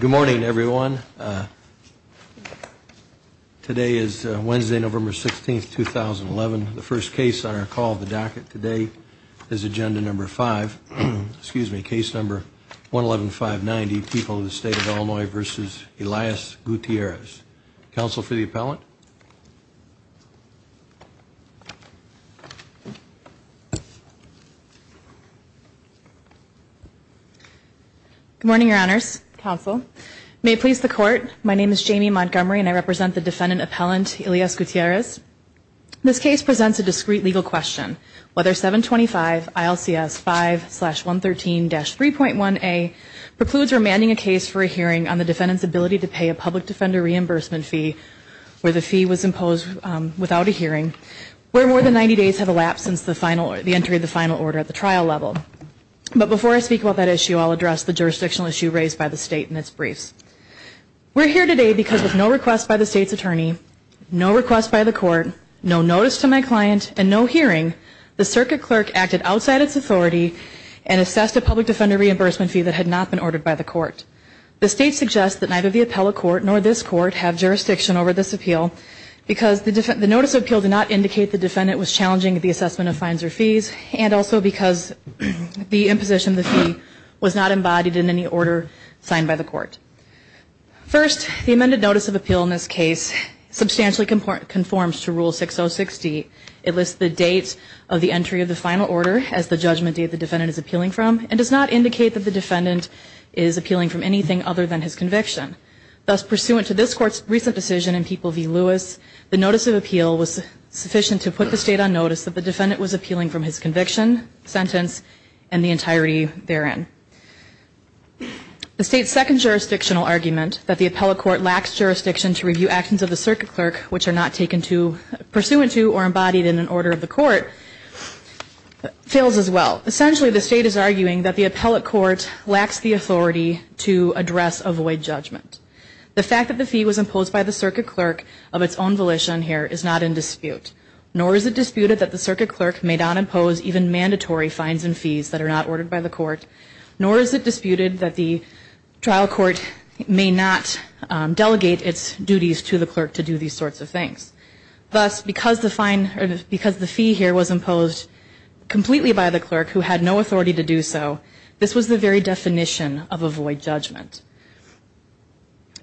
Good morning, everyone. Today is Wednesday, November 16, 2011. The first case on our call of the docket today is agenda number 5, excuse me, case number 111590, People in the State of Illinois v. Elias Gutierrez. Counsel for the appellant? Good morning, your honors, counsel. May it please the court, my name is Jamie Montgomery and I represent the defendant appellant Elias Gutierrez. This case presents a discrete legal question. Whether 725 ILCS 5-113-3.1a precludes remanding a case for a hearing on the defendant's ability to pay a public defender reimbursement fee where the fee is $5,000. The fee was imposed without a hearing where more than 90 days have elapsed since the entry of the final order at the trial level. But before I speak about that issue, I'll address the jurisdictional issue raised by the state in its briefs. We're here today because with no request by the state's attorney, no request by the court, no notice to my client, and no hearing, the circuit clerk acted outside its authority and assessed a public defender reimbursement fee that had not been ordered by the court. The state suggests that neither the appellate court nor this court have jurisdiction over this appeal because the notice of appeal did not indicate the defendant was challenging the assessment of fines or fees and also because the imposition of the fee was not embodied in any order signed by the court. First, the amended notice of appeal in this case substantially conforms to Rule 6060. It lists the date of the entry of the final order as the judgment date the defendant is appealing from and does not indicate that the defendant is appealing from anything other than his conviction. Thus, pursuant to this court's recent decision in People v. Lewis, the notice of appeal was sufficient to put the state on notice that the defendant was appealing from his conviction, sentence, and the entirety therein. The state's second jurisdictional argument, that the appellate court lacks jurisdiction to review actions of the circuit clerk which are not taken to, pursuant to, or embodied in an order of the court, fails as well. Essentially, the state is arguing that the appellate court lacks the authority to address a void judgment. The fact that the fee was imposed by the circuit clerk of its own volition here is not in dispute. Nor is it disputed that the circuit clerk may not impose even mandatory fines and fees that are not ordered by the court. Nor is it disputed that the trial court may not delegate its duties to the clerk to do these sorts of things. Thus, because the fee here was imposed completely by the clerk who had no authority to do so, this was the very definition of a void judgment.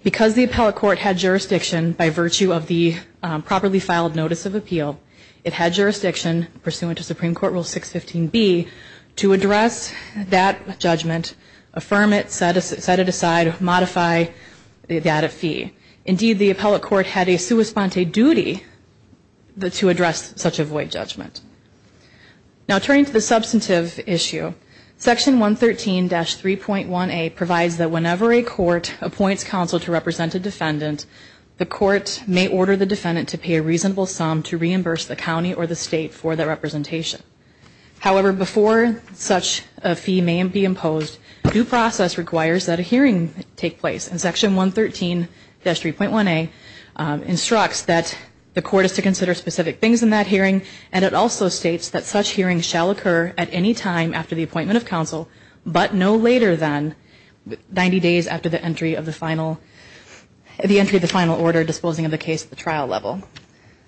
Because the appellate court had jurisdiction by virtue of the properly filed notice of appeal, it had jurisdiction, pursuant to Supreme Court Rule 615B, to address that judgment, affirm it, set it aside, modify that fee. Indeed, the appellate court had a sua sponte duty to address such a void judgment. Now turning to the substantive issue, Section 113-3.1A provides that whenever a court appoints counsel to represent a defendant, the court may order the defendant to pay a reasonable sum to reimburse the county or the state for that representation. However, before such a fee may be imposed, due process requires that a hearing take place. And Section 113-3.1A instructs that the court is to consider specific things in that hearing. And it also states that such hearings shall occur at any time after the appointment of counsel, but no later than 90 days after the entry of the final order disposing of the case at the trial level.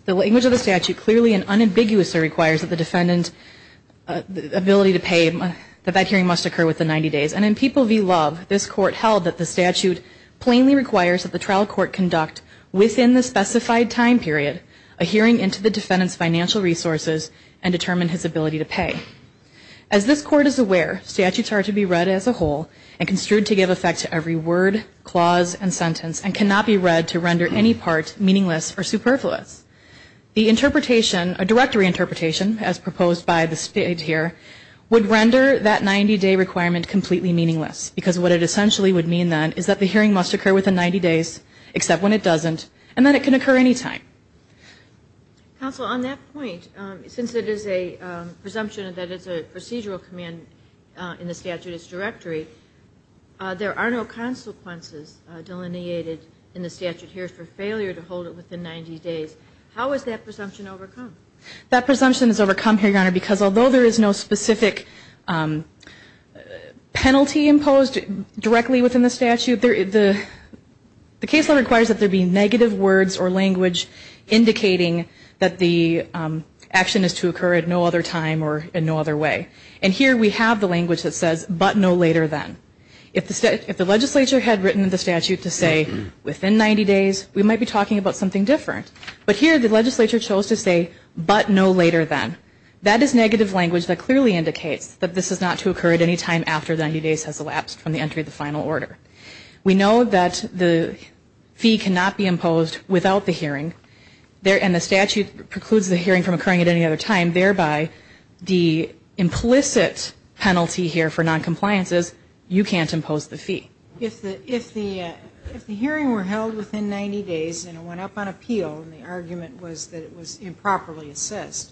The language of the statute clearly and unambiguously requires that the defendant's ability to pay, that that hearing must occur within 90 days. And in People v. Love, this court held that the statute plainly requires that the trial court conduct, within the specified time period, a hearing into the defendant's financial resources and determine his ability to pay. As this court is aware, statutes are to be read as a whole and construed to give effect to every word, clause, and sentence, and cannot be read to render any part meaningless or superfluous. The interpretation, a directory interpretation, as proposed by the state here, would render that 90-day requirement completely meaningless. Because what it essentially would mean, then, is that the hearing must occur within 90 days, except when it doesn't, and that it can occur any time. Counsel, on that point, since it is a presumption that it's a procedural command in the statute's directory, there are no consequences delineated in the statute here for failure to hold it within 90 days. How is that presumption overcome? That presumption is overcome here, Your Honor, because although there is no specific penalty imposed directly within the statute, the case law requires that there be negative words or language indicating that the action is to occur at no other time or in no other way. And here we have the language that says, but no later than. If the legislature had written the statute to say, within 90 days, we might be talking about something different. But here the legislature chose to say, but no later than. That is negative language that clearly indicates that this is not to occur at any time after 90 days has elapsed from the entry of the final order. We know that the fee cannot be imposed without the hearing, and the statute precludes the hearing from occurring at any other time. Thereby, the implicit penalty here for noncompliance is you can't impose the fee. If the hearing were held within 90 days and it went up on appeal, and the argument was that it was improperly assessed,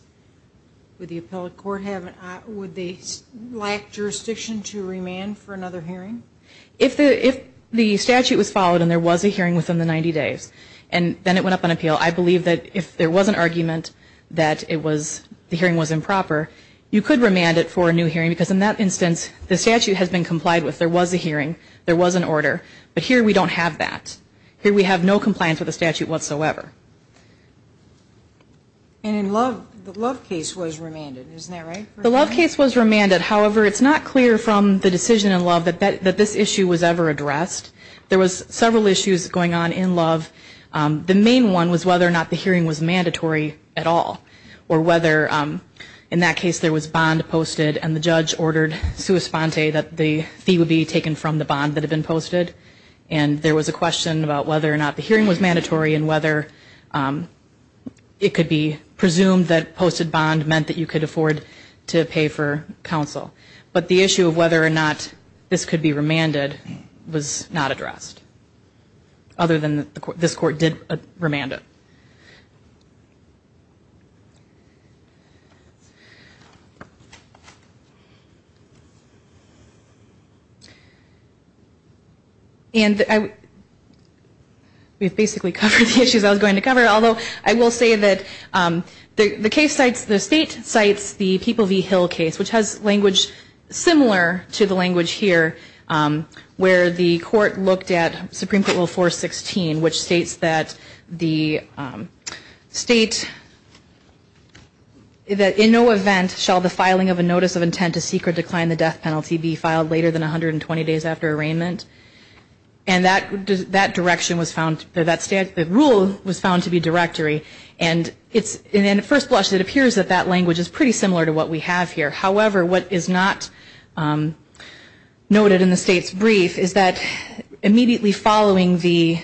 would the appellate court lack jurisdiction to remand for another hearing? If the statute was followed and there was a hearing within the 90 days, and then it went up on appeal, I believe that if there was an argument that the hearing was improper, you could remand it for a new hearing. Because in that instance, the statute has been complied with. There was a hearing. There was an order. But here we don't have that. Here we have no compliance with the statute whatsoever. And the Love case was remanded. Isn't that right? The Love case was remanded. However, it's not clear from the decision in Love that this issue was ever addressed. There was several issues going on in Love. The main one was whether or not the hearing was mandatory at all, or whether in that case there was bond posted and the judge ordered sua sponte that the fee would be taken from the bond that had been posted. And there was a question about whether or not the hearing was mandatory and whether it could be presumed that posted bond meant that you could afford to pay for counsel. But the issue of whether or not this could be remanded was not addressed, other than this court did remand it. And we've basically covered the issues I was going to cover, although I will say that the state cites the People v. Hill case, which has language similar to the language here, where the court looked at Supreme Court Rule 416, which states that the state, that in no event shall the filing of a notice of intent to seek or decline the death penalty be filed later than 120 days after arraignment. And that direction was found, that rule was found to be directory. And in first blush, it appears that that language is pretty similar to what we have here. However, what is not noted in the state's brief is that immediately following the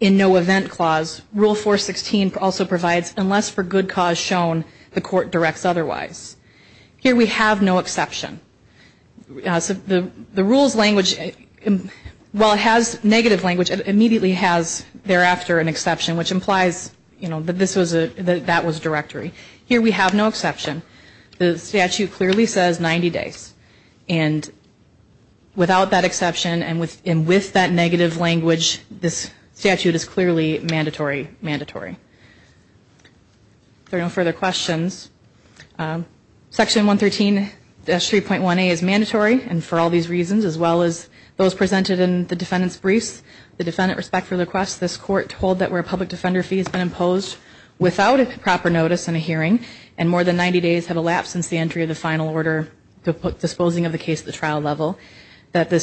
in no event clause, Rule 416 also provides unless for good cause shown, the court directs otherwise. Here we have no exception. The rule's language, while it has negative language, it immediately has thereafter an exception, which implies that that was directory. Here we have no exception. The statute clearly says 90 days. And without that exception and with that negative language, this statute is clearly mandatory, mandatory. If there are no further questions, Section 113-3.1a is mandatory, and for all these reasons, as well as those presented in the defendant's briefs, the defendant, respect for the request, this court told that where a public defender fee has been imposed without a proper notice in a hearing and more than 90 days have elapsed since the entry of the final order disposing of the case at the trial level, that the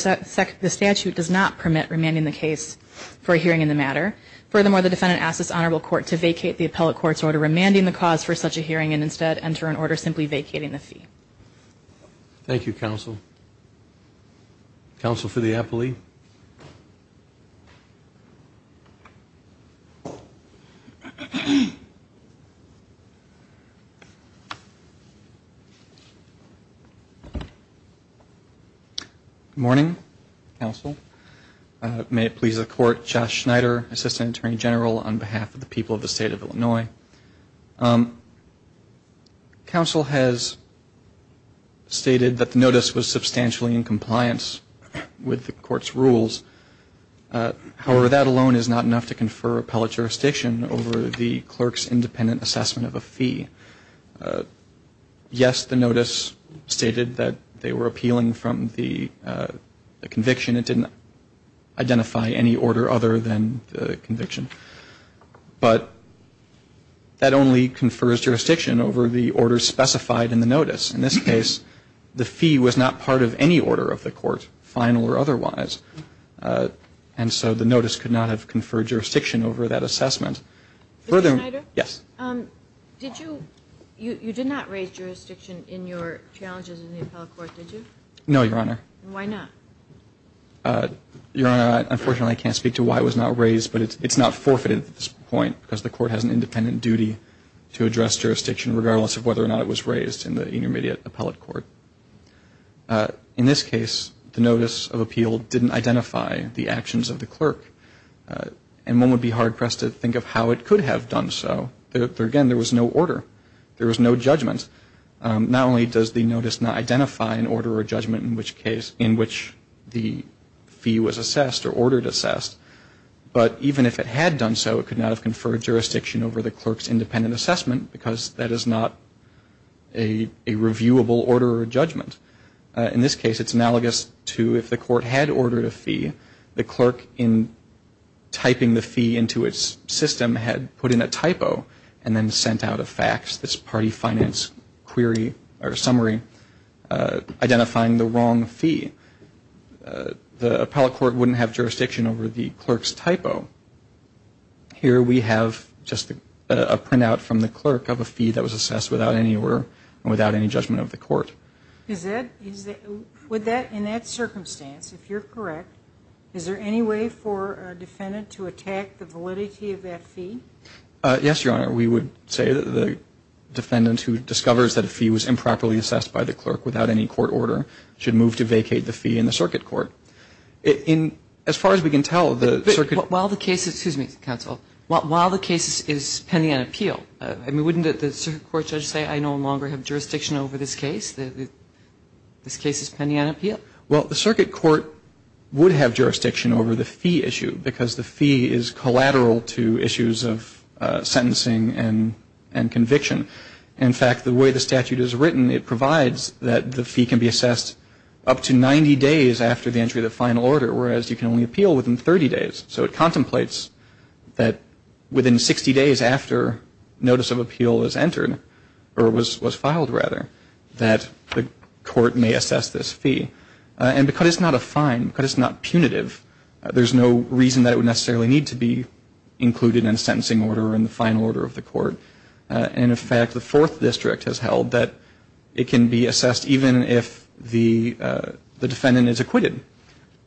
statute does not permit remanding the case for a hearing in the matter. Furthermore, the defendant asks this honorable court to vacate the appellate court's order remanding the cause for such a hearing and instead enter an order simply vacating the fee. Thank you, counsel. Counsel for the appellee. Good morning, counsel. May it please the court, Josh Schneider, Assistant Attorney General on behalf of the people of the State of Illinois. Counsel has stated that the notice was substantially in compliance with the court's rules. However, that alone is not enough to confer appellate jurisdiction over the clerk's independent assessment of a fee. Yes, the notice stated that they were appealing from the conviction. It didn't identify any order other than the conviction. But that only confers jurisdiction over the order specified in the notice. In this case, the fee was not part of any order of the court, final or otherwise. And so the notice could not have conferred jurisdiction over that assessment. Further ---- Mr. Schneider? Yes. Did you ñ you did not raise jurisdiction in your challenges in the appellate court, did you? No, Your Honor. Why not? Your Honor, unfortunately, I can't speak to why it was not raised. But it's not forfeited at this point because the court has an independent duty to address jurisdiction, regardless of whether or not it was raised in the intermediate appellate court. In this case, the notice of appeal didn't identify the actions of the clerk. And one would be hard-pressed to think of how it could have done so. Again, there was no order. There was no judgment. Not only does the notice not identify an order or judgment in which case ñ in which the fee was assessed or ordered assessed, but even if it had done so, it could not have conferred jurisdiction over the clerk's independent assessment because that is not a reviewable order or judgment. In this case, it's analogous to if the court had ordered a fee, the clerk, in typing the fee into its system, had put in a typo and then sent out a fax, this party finance query or summary, identifying the wrong fee. The appellate court wouldn't have jurisdiction over the clerk's typo. Here we have just a printout from the clerk of a fee that was assessed without any order and without any judgment of the court. In that circumstance, if you're correct, is there any way for a defendant to attack the validity of that fee? Yes, Your Honor. We would say that the defendant who discovers that a fee was improperly assessed by the clerk without any court order should move to vacate the fee in the circuit court. In ñ as far as we can tell, the circuit ñ But while the case is ñ excuse me, counsel. While the case is pending on appeal, I mean, wouldn't the circuit court judge say I no longer have jurisdiction over this case, that this case is pending on appeal? Well, the circuit court would have jurisdiction over the fee issue because the fee is collateral to issues of sentencing and conviction. In fact, the way the statute is written, it provides that the fee can be assessed up to 90 days after the entry of the final order, whereas you can only appeal within 30 days. So it contemplates that within 60 days after notice of appeal is entered, or was filed, rather, that the court may assess this fee. And because it's not a fine, because it's not punitive, there's no reason that it would necessarily need to be included in a sentencing order or in the final order of the court. And, in fact, the Fourth District has held that it can be assessed even if the defendant is acquitted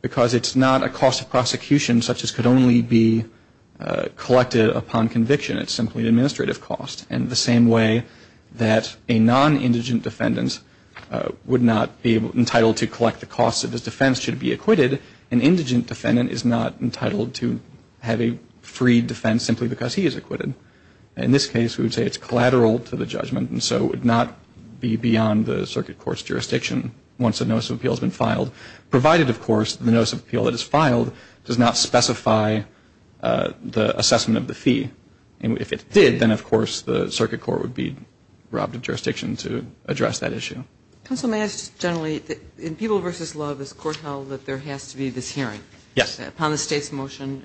because it's not a cost of prosecution such as could only be collected upon conviction. It's simply an administrative cost. And the same way that a non-indigent defendant would not be entitled to collect the costs of his defense should it be acquitted, an indigent defendant is not entitled to have a free defense simply because he is acquitted. In this case, we would say it's collateral to the judgment and so would not be beyond the circuit court's jurisdiction once a notice of appeal has been filed, provided, of course, the notice of appeal that is filed does not specify the assessment of the fee. And if it did, then, of course, the circuit court would be robbed of jurisdiction to address that issue. Counsel, may I ask just generally, in People v. Love, this court held that there has to be this hearing. Yes. Upon the State's motion,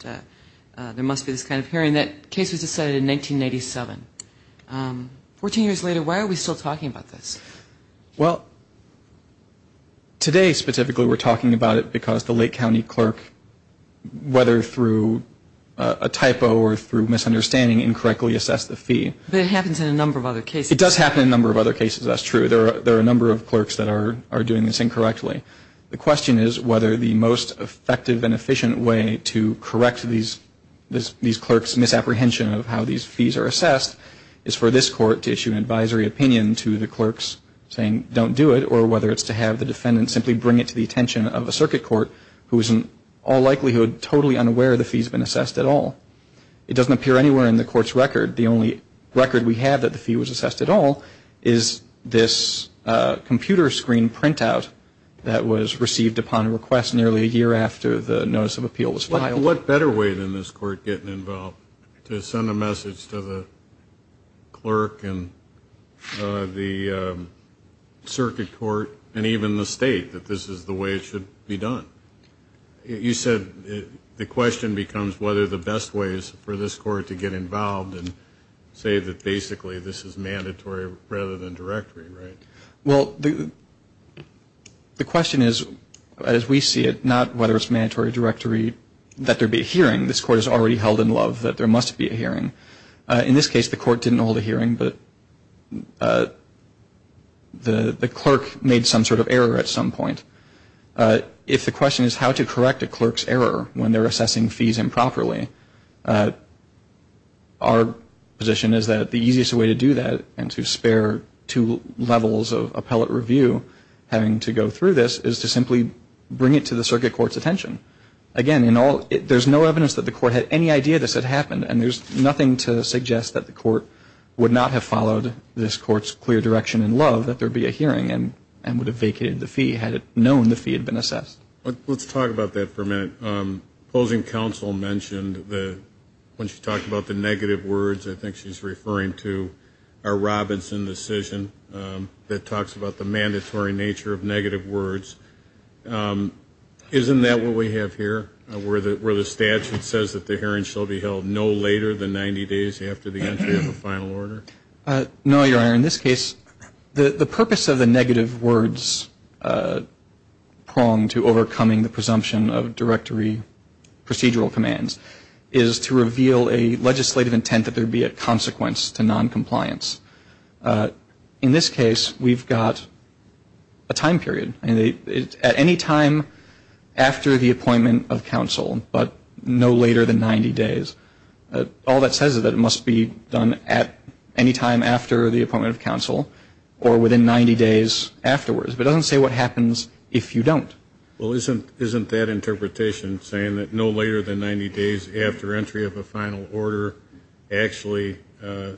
there must be this kind of hearing. That case was decided in 1987. Fourteen years later, why are we still talking about this? Well, today, specifically, we're talking about it because the Lake County clerk, whether through a typo or through misunderstanding, incorrectly assessed the fee. But it happens in a number of other cases. It does happen in a number of other cases. That's true. There are a number of clerks that are doing this incorrectly. The question is whether the most effective and efficient way to correct these clerks' misapprehension of how these fees are assessed is for this court to issue an advisory opinion to the clerks saying don't do it or whether it's to have the defendant simply bring it to the attention of a circuit court, who is in all likelihood totally unaware the fee's been assessed at all. It doesn't appear anywhere in the court's record. The only record we have that the fee was assessed at all is this computer screen printout that was received upon request nearly a year after the notice of appeal was filed. What better way than this court getting involved to send a message to the clerk and the circuit court and even the State that this is the way it should be done? You said the question becomes whether the best ways for this court to get involved and say that basically this is mandatory rather than directory, right? Well, the question is, as we see it, not whether it's mandatory or directory, that there be a hearing. This court has already held in love that there must be a hearing. In this case, the court didn't hold a hearing, but the clerk made some sort of error at some point. If the question is how to correct a clerk's error when they're assessing fees improperly, our position is that the easiest way to do that and to spare two levels of appellate review having to go through this is to simply bring it to the circuit court's attention. Again, there's no evidence that the court had any idea this had happened, and there's nothing to suggest that the court would not have followed this court's clear direction in love that there would be a hearing and would have vacated the fee had it known the fee had been assessed. Let's talk about that for a minute. Closing counsel mentioned that when she talked about the negative words, I think she's referring to our Robinson decision that talks about the mandatory nature of negative words. Isn't that what we have here, where the statute says that the hearing shall be held no later than 90 days after the entry of a final order? No, Your Honor. In this case, the purpose of the negative words pronged to overcoming the presumption of directory procedural commands is to reveal a legislative intent that there be a consequence to noncompliance. In this case, we've got a time period. At any time after the appointment of counsel, but no later than 90 days, all that says is that it must be done at any time after the appointment of counsel or within 90 days afterwards. But it doesn't say what happens if you don't. Well, isn't that interpretation saying that no later than 90 days after entry of a final order actually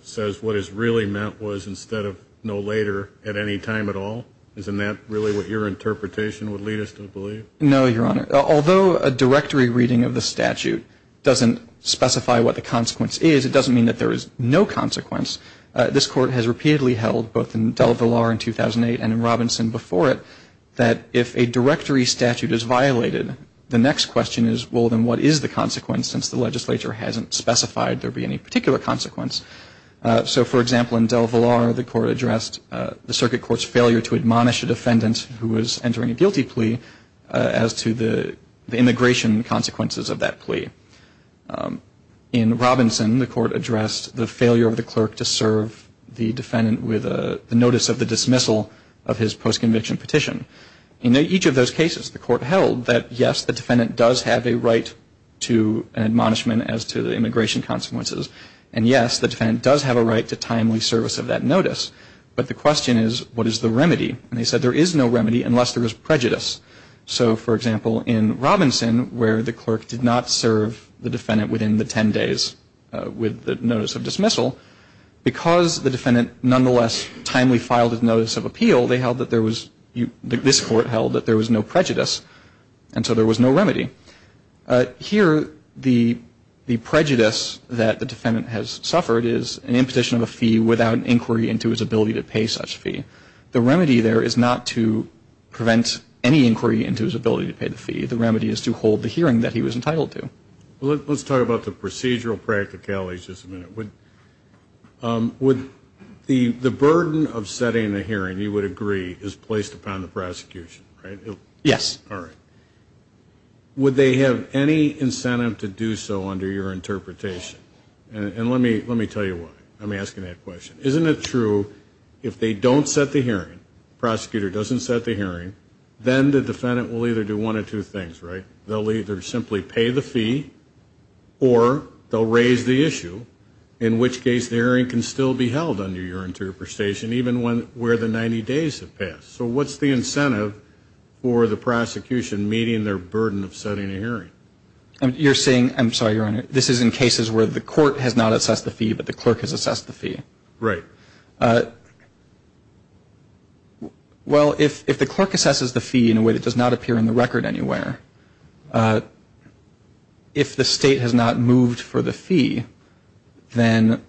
says what is really meant was instead of no later at any time at all? Isn't that really what your interpretation would lead us to believe? No, Your Honor. Although a directory reading of the statute doesn't specify what the consequence is, it doesn't mean that there is no consequence. This Court has repeatedly held, both in Del Vilar in 2008 and in Robinson before it, that if a directory statute is violated, the next question is, well, then what is the consequence? Since the legislature hasn't specified there be any particular consequence. So, for example, in Del Vilar, the Court addressed the Circuit Court's failure to admonish a defendant who was entering a guilty plea as to the immigration consequences of that plea. In Robinson, the Court addressed the failure of the clerk to serve the defendant with a notice of the dismissal of his post-conviction petition. In each of those cases, the Court held that, yes, the defendant does have a right to an admonishment as to the immigration consequences, and, yes, the defendant does have a right to timely service of that notice. But the question is, what is the remedy? And they said there is no remedy unless there is prejudice. So, for example, in Robinson, where the clerk did not serve the defendant within the 10 days with the notice of dismissal, because the defendant nonetheless timely filed his notice of appeal, they held that there was, this Court held that there was no prejudice, and so there was no remedy. Here, the prejudice that the defendant has suffered is an impetution of a fee without inquiry into his ability to pay such a fee. The remedy there is not to prevent any inquiry into his ability to pay the fee. The remedy is to hold the hearing that he was entitled to. Well, let's talk about the procedural practicalities just a minute. Would the burden of setting a hearing, you would agree, is placed upon the prosecution, right? Yes. All right. Would they have any incentive to do so under your interpretation? And let me tell you why. I'm asking that question. Isn't it true if they don't set the hearing, the prosecutor doesn't set the hearing, then the defendant will either do one of two things, right? They'll either simply pay the fee or they'll raise the issue, in which case the hearing can still be held under your interpretation even where the 90 days have passed. So what's the incentive for the prosecution meeting their burden of setting a hearing? You're saying, I'm sorry, Your Honor, this is in cases where the court has not assessed the fee but the clerk has assessed the fee. Right. Well, if the clerk assesses the fee in a way that does not appear in the record anywhere, if the state has not moved for the fee, then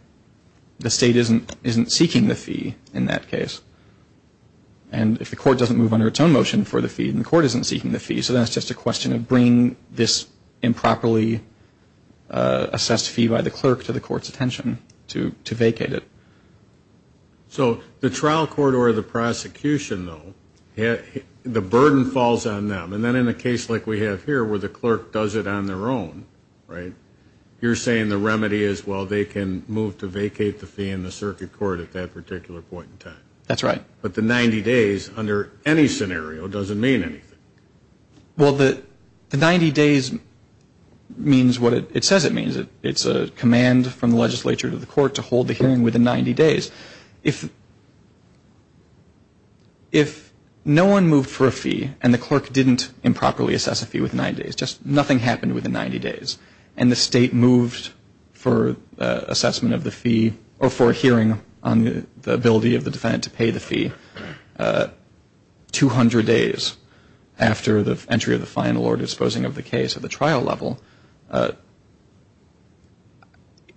the state isn't seeking the fee in that case. And if the court doesn't move under its own motion for the fee, then the court isn't seeking the fee. So that's just a question of bringing this improperly assessed fee by the clerk to the court's attention to vacate it. So the trial court or the prosecution, though, the burden falls on them. And then in a case like we have here where the clerk does it on their own, right, you're saying the remedy is, well, they can move to vacate the fee in the circuit court at that particular point in time. That's right. But the 90 days under any scenario doesn't mean anything. Well, the 90 days means what it says it means. It's a command from the legislature to the court to hold the hearing within 90 days. If no one moved for a fee and the clerk didn't improperly assess a fee within 90 days, just nothing happened within 90 days, and the state moved for assessment of the fee or for a hearing on the ability of the defendant to pay the fee 200 days after the entry of the final or disposing of the case at the trial level,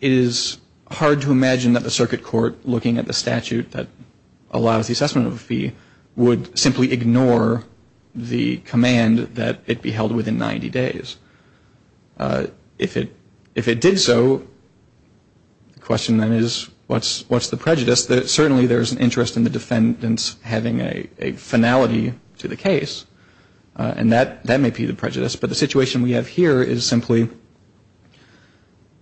it is hard to imagine that the circuit court looking at the statute that allows the assessment of a fee would simply ignore the command that it be held within 90 days. If it did so, the question then is what's the prejudice? Certainly there's an interest in the defendants having a finality to the case, and that may be the prejudice. But the situation we have here is simply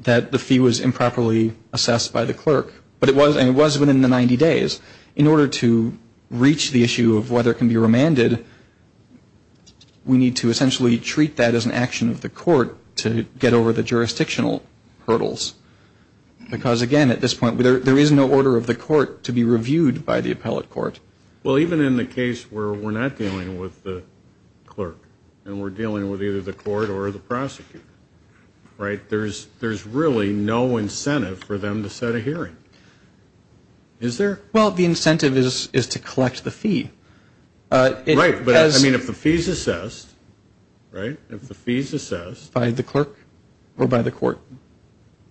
that the fee was improperly assessed by the clerk, and it was within the 90 days. In order to reach the issue of whether it can be remanded, we need to essentially treat that as an action of the court to get over the jurisdictional hurdles. Because, again, at this point, there is no order of the court to be reviewed by the appellate court. Well, even in the case where we're not dealing with the clerk and we're dealing with either the court or the prosecutor, right, there's really no incentive for them to set a hearing. Is there? Well, the incentive is to collect the fee. Right, but I mean if the fee is assessed, right, if the fee is assessed. By the clerk or by the court?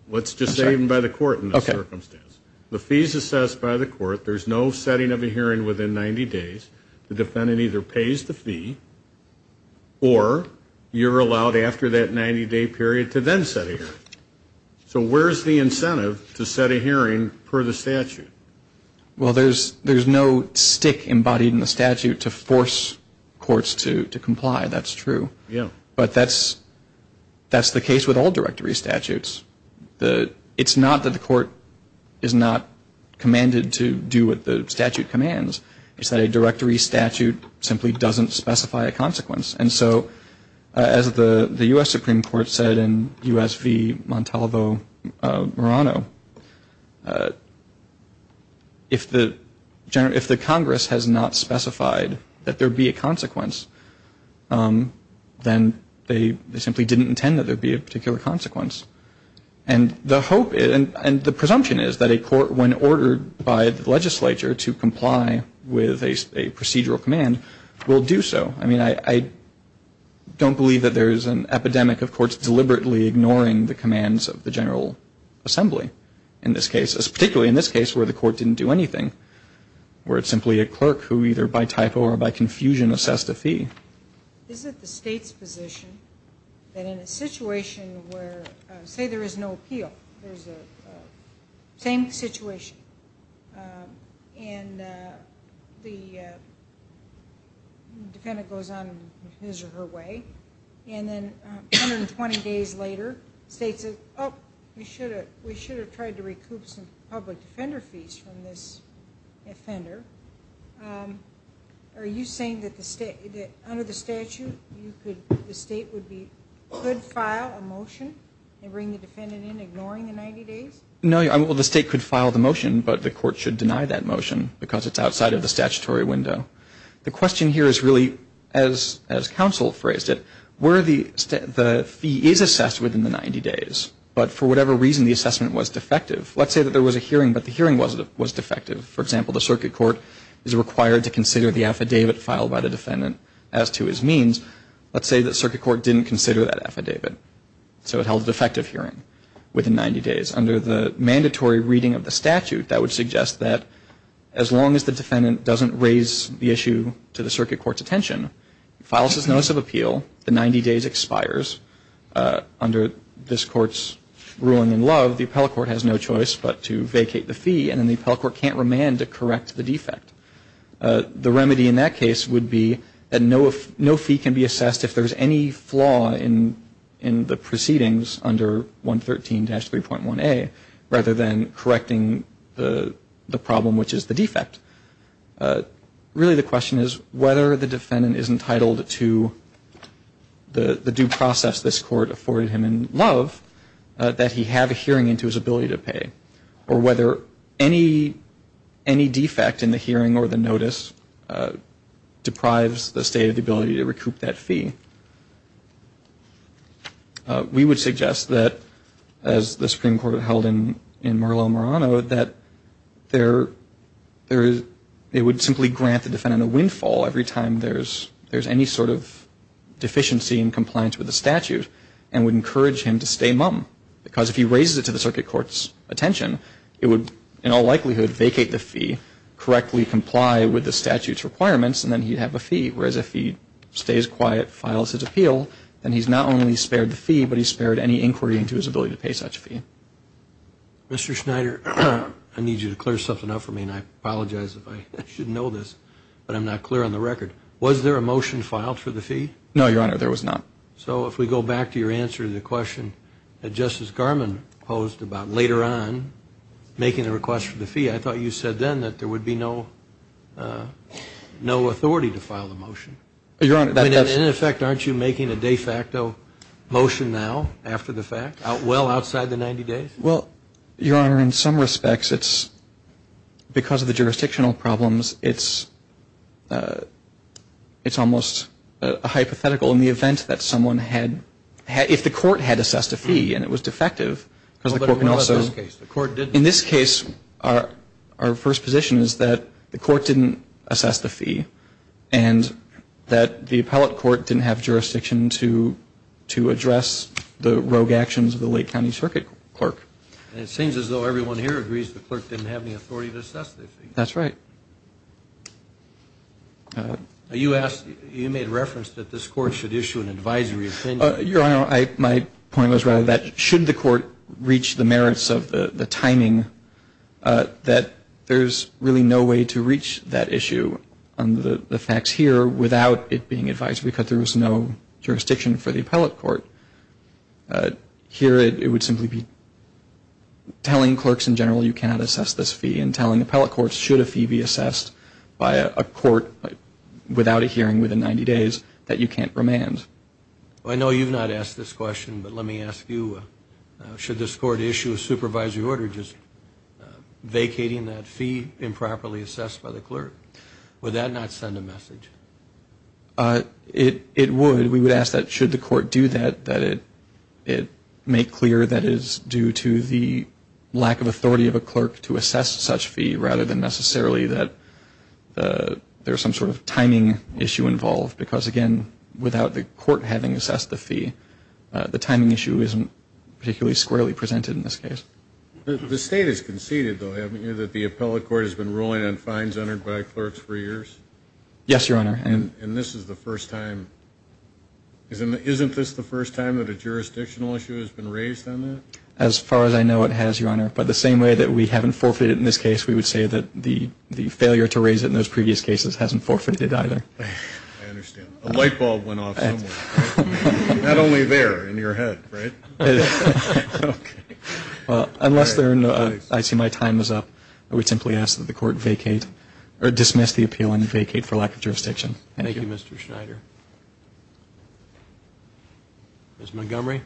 Let's just say even by the court in this circumstance. The fee is assessed by the court. There's no setting of a hearing within 90 days. The defendant either pays the fee or you're allowed after that 90-day period to then set a hearing. So where is the incentive to set a hearing per the statute? Well, there's no stick embodied in the statute to force courts to comply. That's true. Yeah. But that's the case with all directory statutes. It's not that the court is not commanded to do what the statute commands. It's that a directory statute simply doesn't specify a consequence. And so as the U.S. Supreme Court said in U.S. v. Montalvo-Morano, if the Congress has not specified that there be a consequence, then they simply didn't intend that there be a particular consequence. And the hope and the presumption is that a court, when ordered by the legislature to comply with a procedural command, will do so. I mean, I don't believe that there is an epidemic of courts deliberately ignoring the commands of the General Assembly in this case, particularly in this case where the court didn't do anything, where it's simply a clerk who either by typo or by confusion assessed a fee. Is it the state's position that in a situation where, say, there is no appeal, there's the same situation and the defendant goes on his or her way, and then 120 days later the state says, oh, we should have tried to recoup some public defender fees from this offender? Are you saying that under the statute, the state could file a motion and bring the defendant in ignoring the 90 days? No. Well, the state could file the motion, but the court should deny that motion because it's outside of the statutory window. The question here is really, as counsel phrased it, where the fee is assessed within the 90 days, but for whatever reason the assessment was defective. Let's say that there was a hearing, but the hearing was defective. For example, the circuit court is required to consider the affidavit filed by the defendant as to his means. Let's say the circuit court didn't consider that affidavit, so it held a defective hearing within 90 days. Under the mandatory reading of the statute, that would suggest that as long as the defendant doesn't raise the issue to the circuit court's attention, he files his notice of appeal, the 90 days expires. Under this court's ruling in love, the appellate court has no choice but to vacate the fee, and then the appellate court can't remand to correct the defect. The remedy in that case would be that no fee can be assessed if there is any flaw in the proceedings under 113-3.1A, rather than correcting the problem, which is the defect. Really the question is whether the defendant is entitled to the due process this court afforded him in love that he have a hearing into his ability to pay, or whether any defect in the hearing or the notice deprives the state of the ability to recoup that fee. We would suggest that, as the Supreme Court held in Merlo-Morano, that they would simply grant the defendant a windfall every time there's any sort of deficiency in compliance with the statute, and would encourage him to stay mum. Because if he raises it to the circuit court's attention, it would in all likelihood vacate the fee, correctly comply with the statute's requirements, and then he'd have a fee. Whereas if he stays quiet, files his appeal, then he's not only spared the fee, but he's spared any inquiry into his ability to pay such a fee. Mr. Schneider, I need you to clear something up for me, and I apologize if I should know this, but I'm not clear on the record. Was there a motion filed for the fee? No, Your Honor, there was not. So if we go back to your answer to the question that Justice Garmon posed about later on, making the request for the fee, I thought you said then that there would be no authority to file the motion. In effect, aren't you making a de facto motion now, after the fact, well outside the 90 days? Well, Your Honor, in some respects, it's because of the jurisdictional problems, it's almost a hypothetical. In the event that someone had, if the court had assessed a fee and it was defective, because the court can also, in this case, our first position is that the court didn't assess the fee, and that the appellate court didn't have jurisdiction to address the rogue actions of the Lake County Circuit Clerk. And it seems as though everyone here agrees the clerk didn't have any authority to assess the fee. That's right. You asked, you made reference that this court should issue an advisory opinion. Your Honor, my point was rather that should the court reach the merits of the timing, that there's really no way to reach that issue under the facts here without it being advised, because there was no jurisdiction for the appellate court. Here it would simply be telling clerks in general you cannot assess this fee and telling appellate courts should a fee be assessed by a court without a hearing within 90 days that you can't remand. I know you've not asked this question, but let me ask you. Should this court issue a supervisory order just vacating that fee improperly assessed by the clerk? Would that not send a message? It would. We would ask that should the court do that, that it make clear that it is due to the lack of authority of a clerk to assess such fee rather than necessarily that there's some sort of timing issue involved, because, again, without the court having assessed the fee, the timing issue isn't particularly squarely presented in this case. The State has conceded, though, haven't you, that the appellate court has been ruling on fines entered by clerks for years? Yes, Your Honor. And this is the first time isn't this the first time that a jurisdictional issue has been raised on that? As far as I know it has, Your Honor. But the same way that we haven't forfeited in this case, we would say that the failure to raise it in those previous cases hasn't forfeited either. I understand. A light bulb went off somewhere. Not only there, in your head, right? It is. Okay. Well, unless I see my time is up, I would simply ask that the court vacate or dismiss the appeal and vacate for lack of jurisdiction. Thank you, Mr. Schneider. Ms. Montgomery.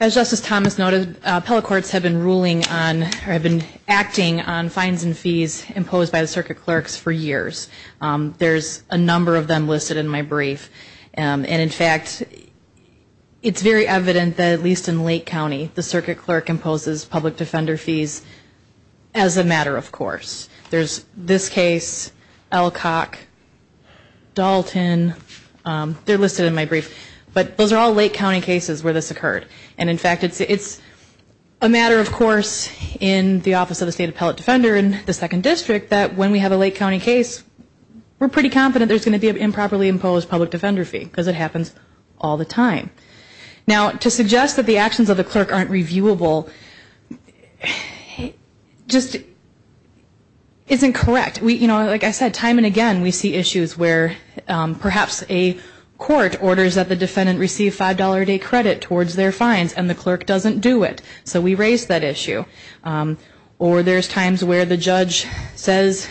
As Justice Thomas noted, appellate courts have been acting on fines and fees imposed by the circuit clerks for years. There's a number of them listed in my brief. And, in fact, it's very evident that at least in Lake County, the circuit clerk imposes public defender fees as a matter of course. There's this case, Elcock, Dalton. They're listed in my brief. But those are all Lake County cases where this occurred. And, in fact, it's a matter of course in the Office of the State Appellate Defender in the Second District that when we have a Lake County case, we're pretty confident there's going to be an improperly imposed public defender fee, because it happens all the time. Now, to suggest that the actions of the clerk aren't reviewable just isn't correct. You know, like I said, time and again, we see issues where perhaps a court orders that the defendant receive $5 a day credit towards their fines, and the clerk doesn't do it. So we raise that issue. Or there's times where the judge says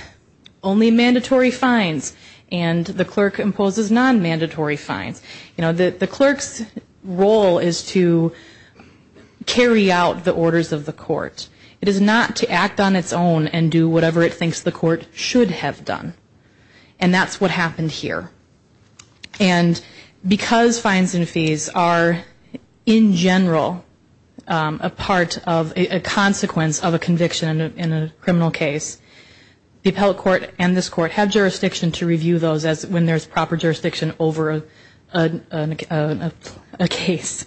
only mandatory fines, and the clerk imposes non-mandatory fines. You know, the clerk's role is to carry out the orders of the court. It is not to act on its own and do whatever it thinks the court should have done. And that's what happened here. And because fines and fees are, in general, a part of a consequence of a conviction in a criminal case, the appellate court and this court have jurisdiction to review those when there's proper jurisdiction over a case.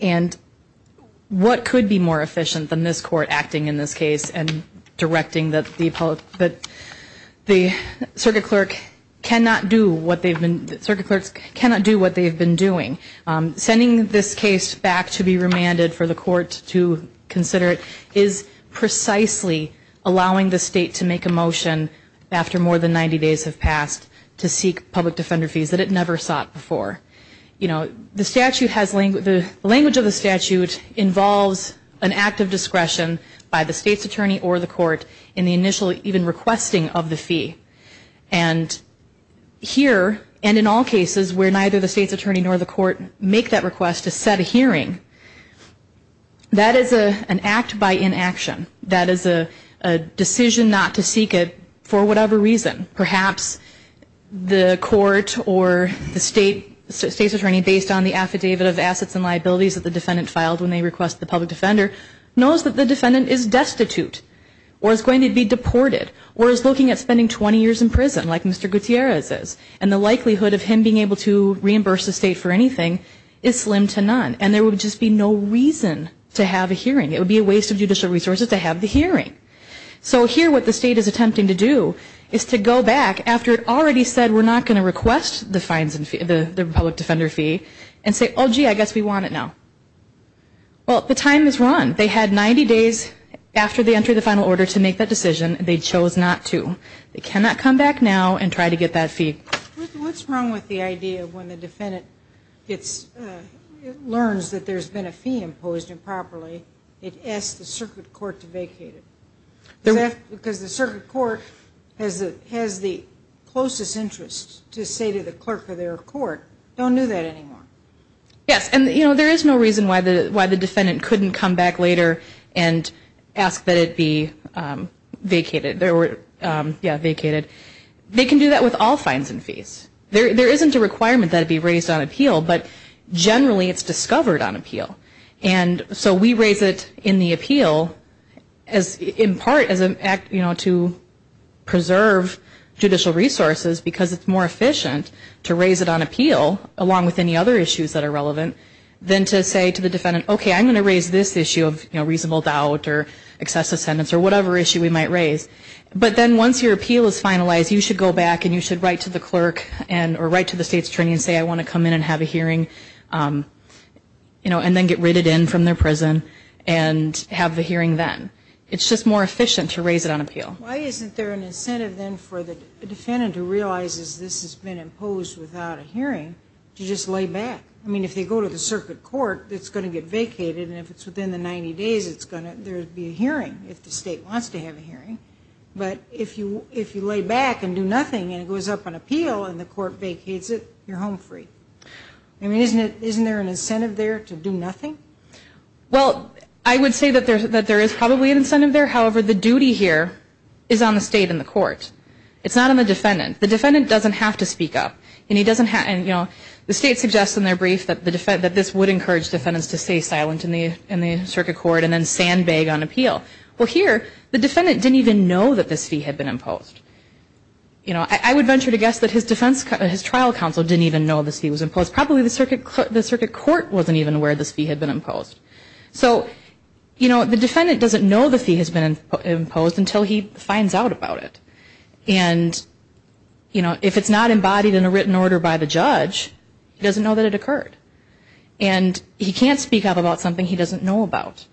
And what could be more efficient than this court acting in this case and directing that the circuit clerk cannot do what they've been doing? Sending this case back to be remanded for the court to consider it is precisely allowing the state to make a motion after more than 90 days have passed to seek public defender fees that it never sought before. The language of the statute involves an act of discretion by the state's attorney or the court in the initial even requesting of the fee. And here, and in all cases where neither the state's attorney nor the court make that request to set a hearing, that is an act by inaction. That is a decision not to seek it for whatever reason. Perhaps the court or the state's attorney, based on the affidavit of assets and liabilities that the defendant filed when they request the public defender, knows that the defendant is destitute or is going to be deported or is looking at spending 20 years in prison like Mr. Gutierrez is. And the likelihood of him being able to reimburse the state for anything is slim to none. And there would just be no reason to have a hearing. It would be a waste of judicial resources to have the hearing. So here what the state is attempting to do is to go back, after it already said we're not going to request the public defender fee, and say, oh, gee, I guess we want it now. Well, the time is run. They had 90 days after they entered the final order to make that decision. They chose not to. They cannot come back now and try to get that fee. What's wrong with the idea when the defendant learns that there's been a fee imposed improperly, it asks the circuit court to vacate it? Because the circuit court has the closest interest to say to the clerk of their court, don't do that anymore. Yes. And, you know, there is no reason why the defendant couldn't come back later and ask that it be vacated. Yeah, vacated. They can do that with all fines and fees. There isn't a requirement that it be raised on appeal, but generally it's discovered on appeal. And so we raise it in the appeal in part to preserve judicial resources because it's more efficient to raise it on appeal, along with any other issues that are relevant, than to say to the defendant, okay, I'm going to raise this issue of reasonable doubt or excessive sentence or whatever issue we might raise. But then once your appeal is finalized, you should go back and you should write to the clerk or write to the state's attorney and say, I want to come in and have a hearing, you know, and then get written in from their prison and have the hearing then. It's just more efficient to raise it on appeal. Why isn't there an incentive then for the defendant who realizes this has been imposed without a hearing to just lay back? I mean, if they go to the circuit court, it's going to get vacated, and if it's within the 90 days, there will be a hearing if the state wants to have a hearing. But if you lay back and do nothing and it goes up on appeal and the court vacates it, you're home free. I mean, isn't there an incentive there to do nothing? Well, I would say that there is probably an incentive there. However, the duty here is on the state and the court. It's not on the defendant. The defendant doesn't have to speak up. And he doesn't have, you know, the state suggests in their brief that this would encourage defendants to stay silent in the circuit court and then sandbag on appeal. Well, here, the defendant didn't even know that this fee had been imposed. You know, I would venture to guess that his trial counsel didn't even know this fee was imposed. Probably the circuit court wasn't even aware this fee had been imposed. So, you know, the defendant doesn't know the fee has been imposed until he finds out about it. And, you know, if it's not embodied in a written order by the judge, he doesn't know that it occurred. And he can't speak up about something he doesn't know about.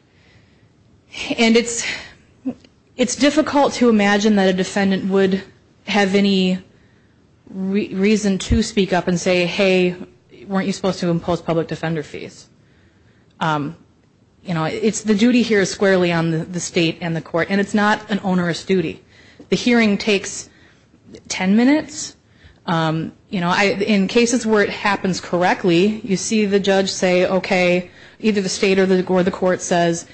And it's difficult to imagine that a defendant would have any reason to speak up and say, hey, weren't you supposed to impose public defender fees? You know, the duty here is squarely on the state and the court. And it's not an onerous duty. The hearing takes ten minutes. You know, in cases where it happens correctly, you see the judge say, okay, either the state or the court says,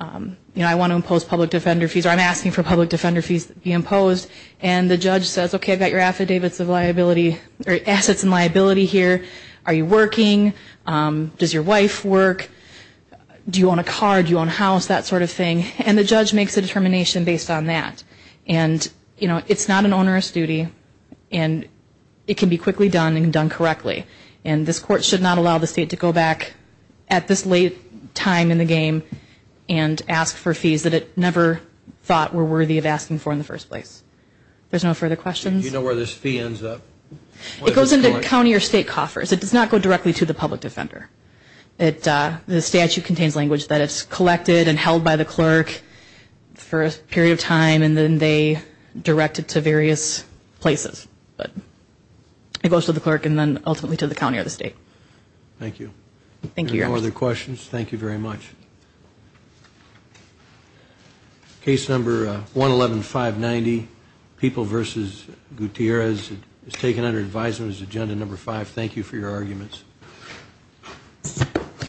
you know, I want to impose public defender fees or I'm asking for public defender fees to be imposed. And the judge says, okay, I've got your affidavits of liability or assets in liability here. Are you working? Does your wife work? Do you own a car? Do you own a house? That sort of thing. And the judge makes a determination based on that. And, you know, it's not an onerous duty. And it can be quickly done and done correctly. And this court should not allow the state to go back at this late time in the game and ask for fees that it never thought were worthy of asking for in the first place. If there's no further questions. Do you know where this fee ends up? It goes into county or state coffers. It does not go directly to the public defender. The statute contains language that it's collected and held by the clerk for a period of time and then they direct it to various places. It goes to the clerk and then ultimately to the county or the state. Thank you. Thank you, Your Honor. Any other questions? Thank you very much. Case number 111590, People v. Gutierrez. It was taken under advisement. It was agenda number five. Thank you for your arguments.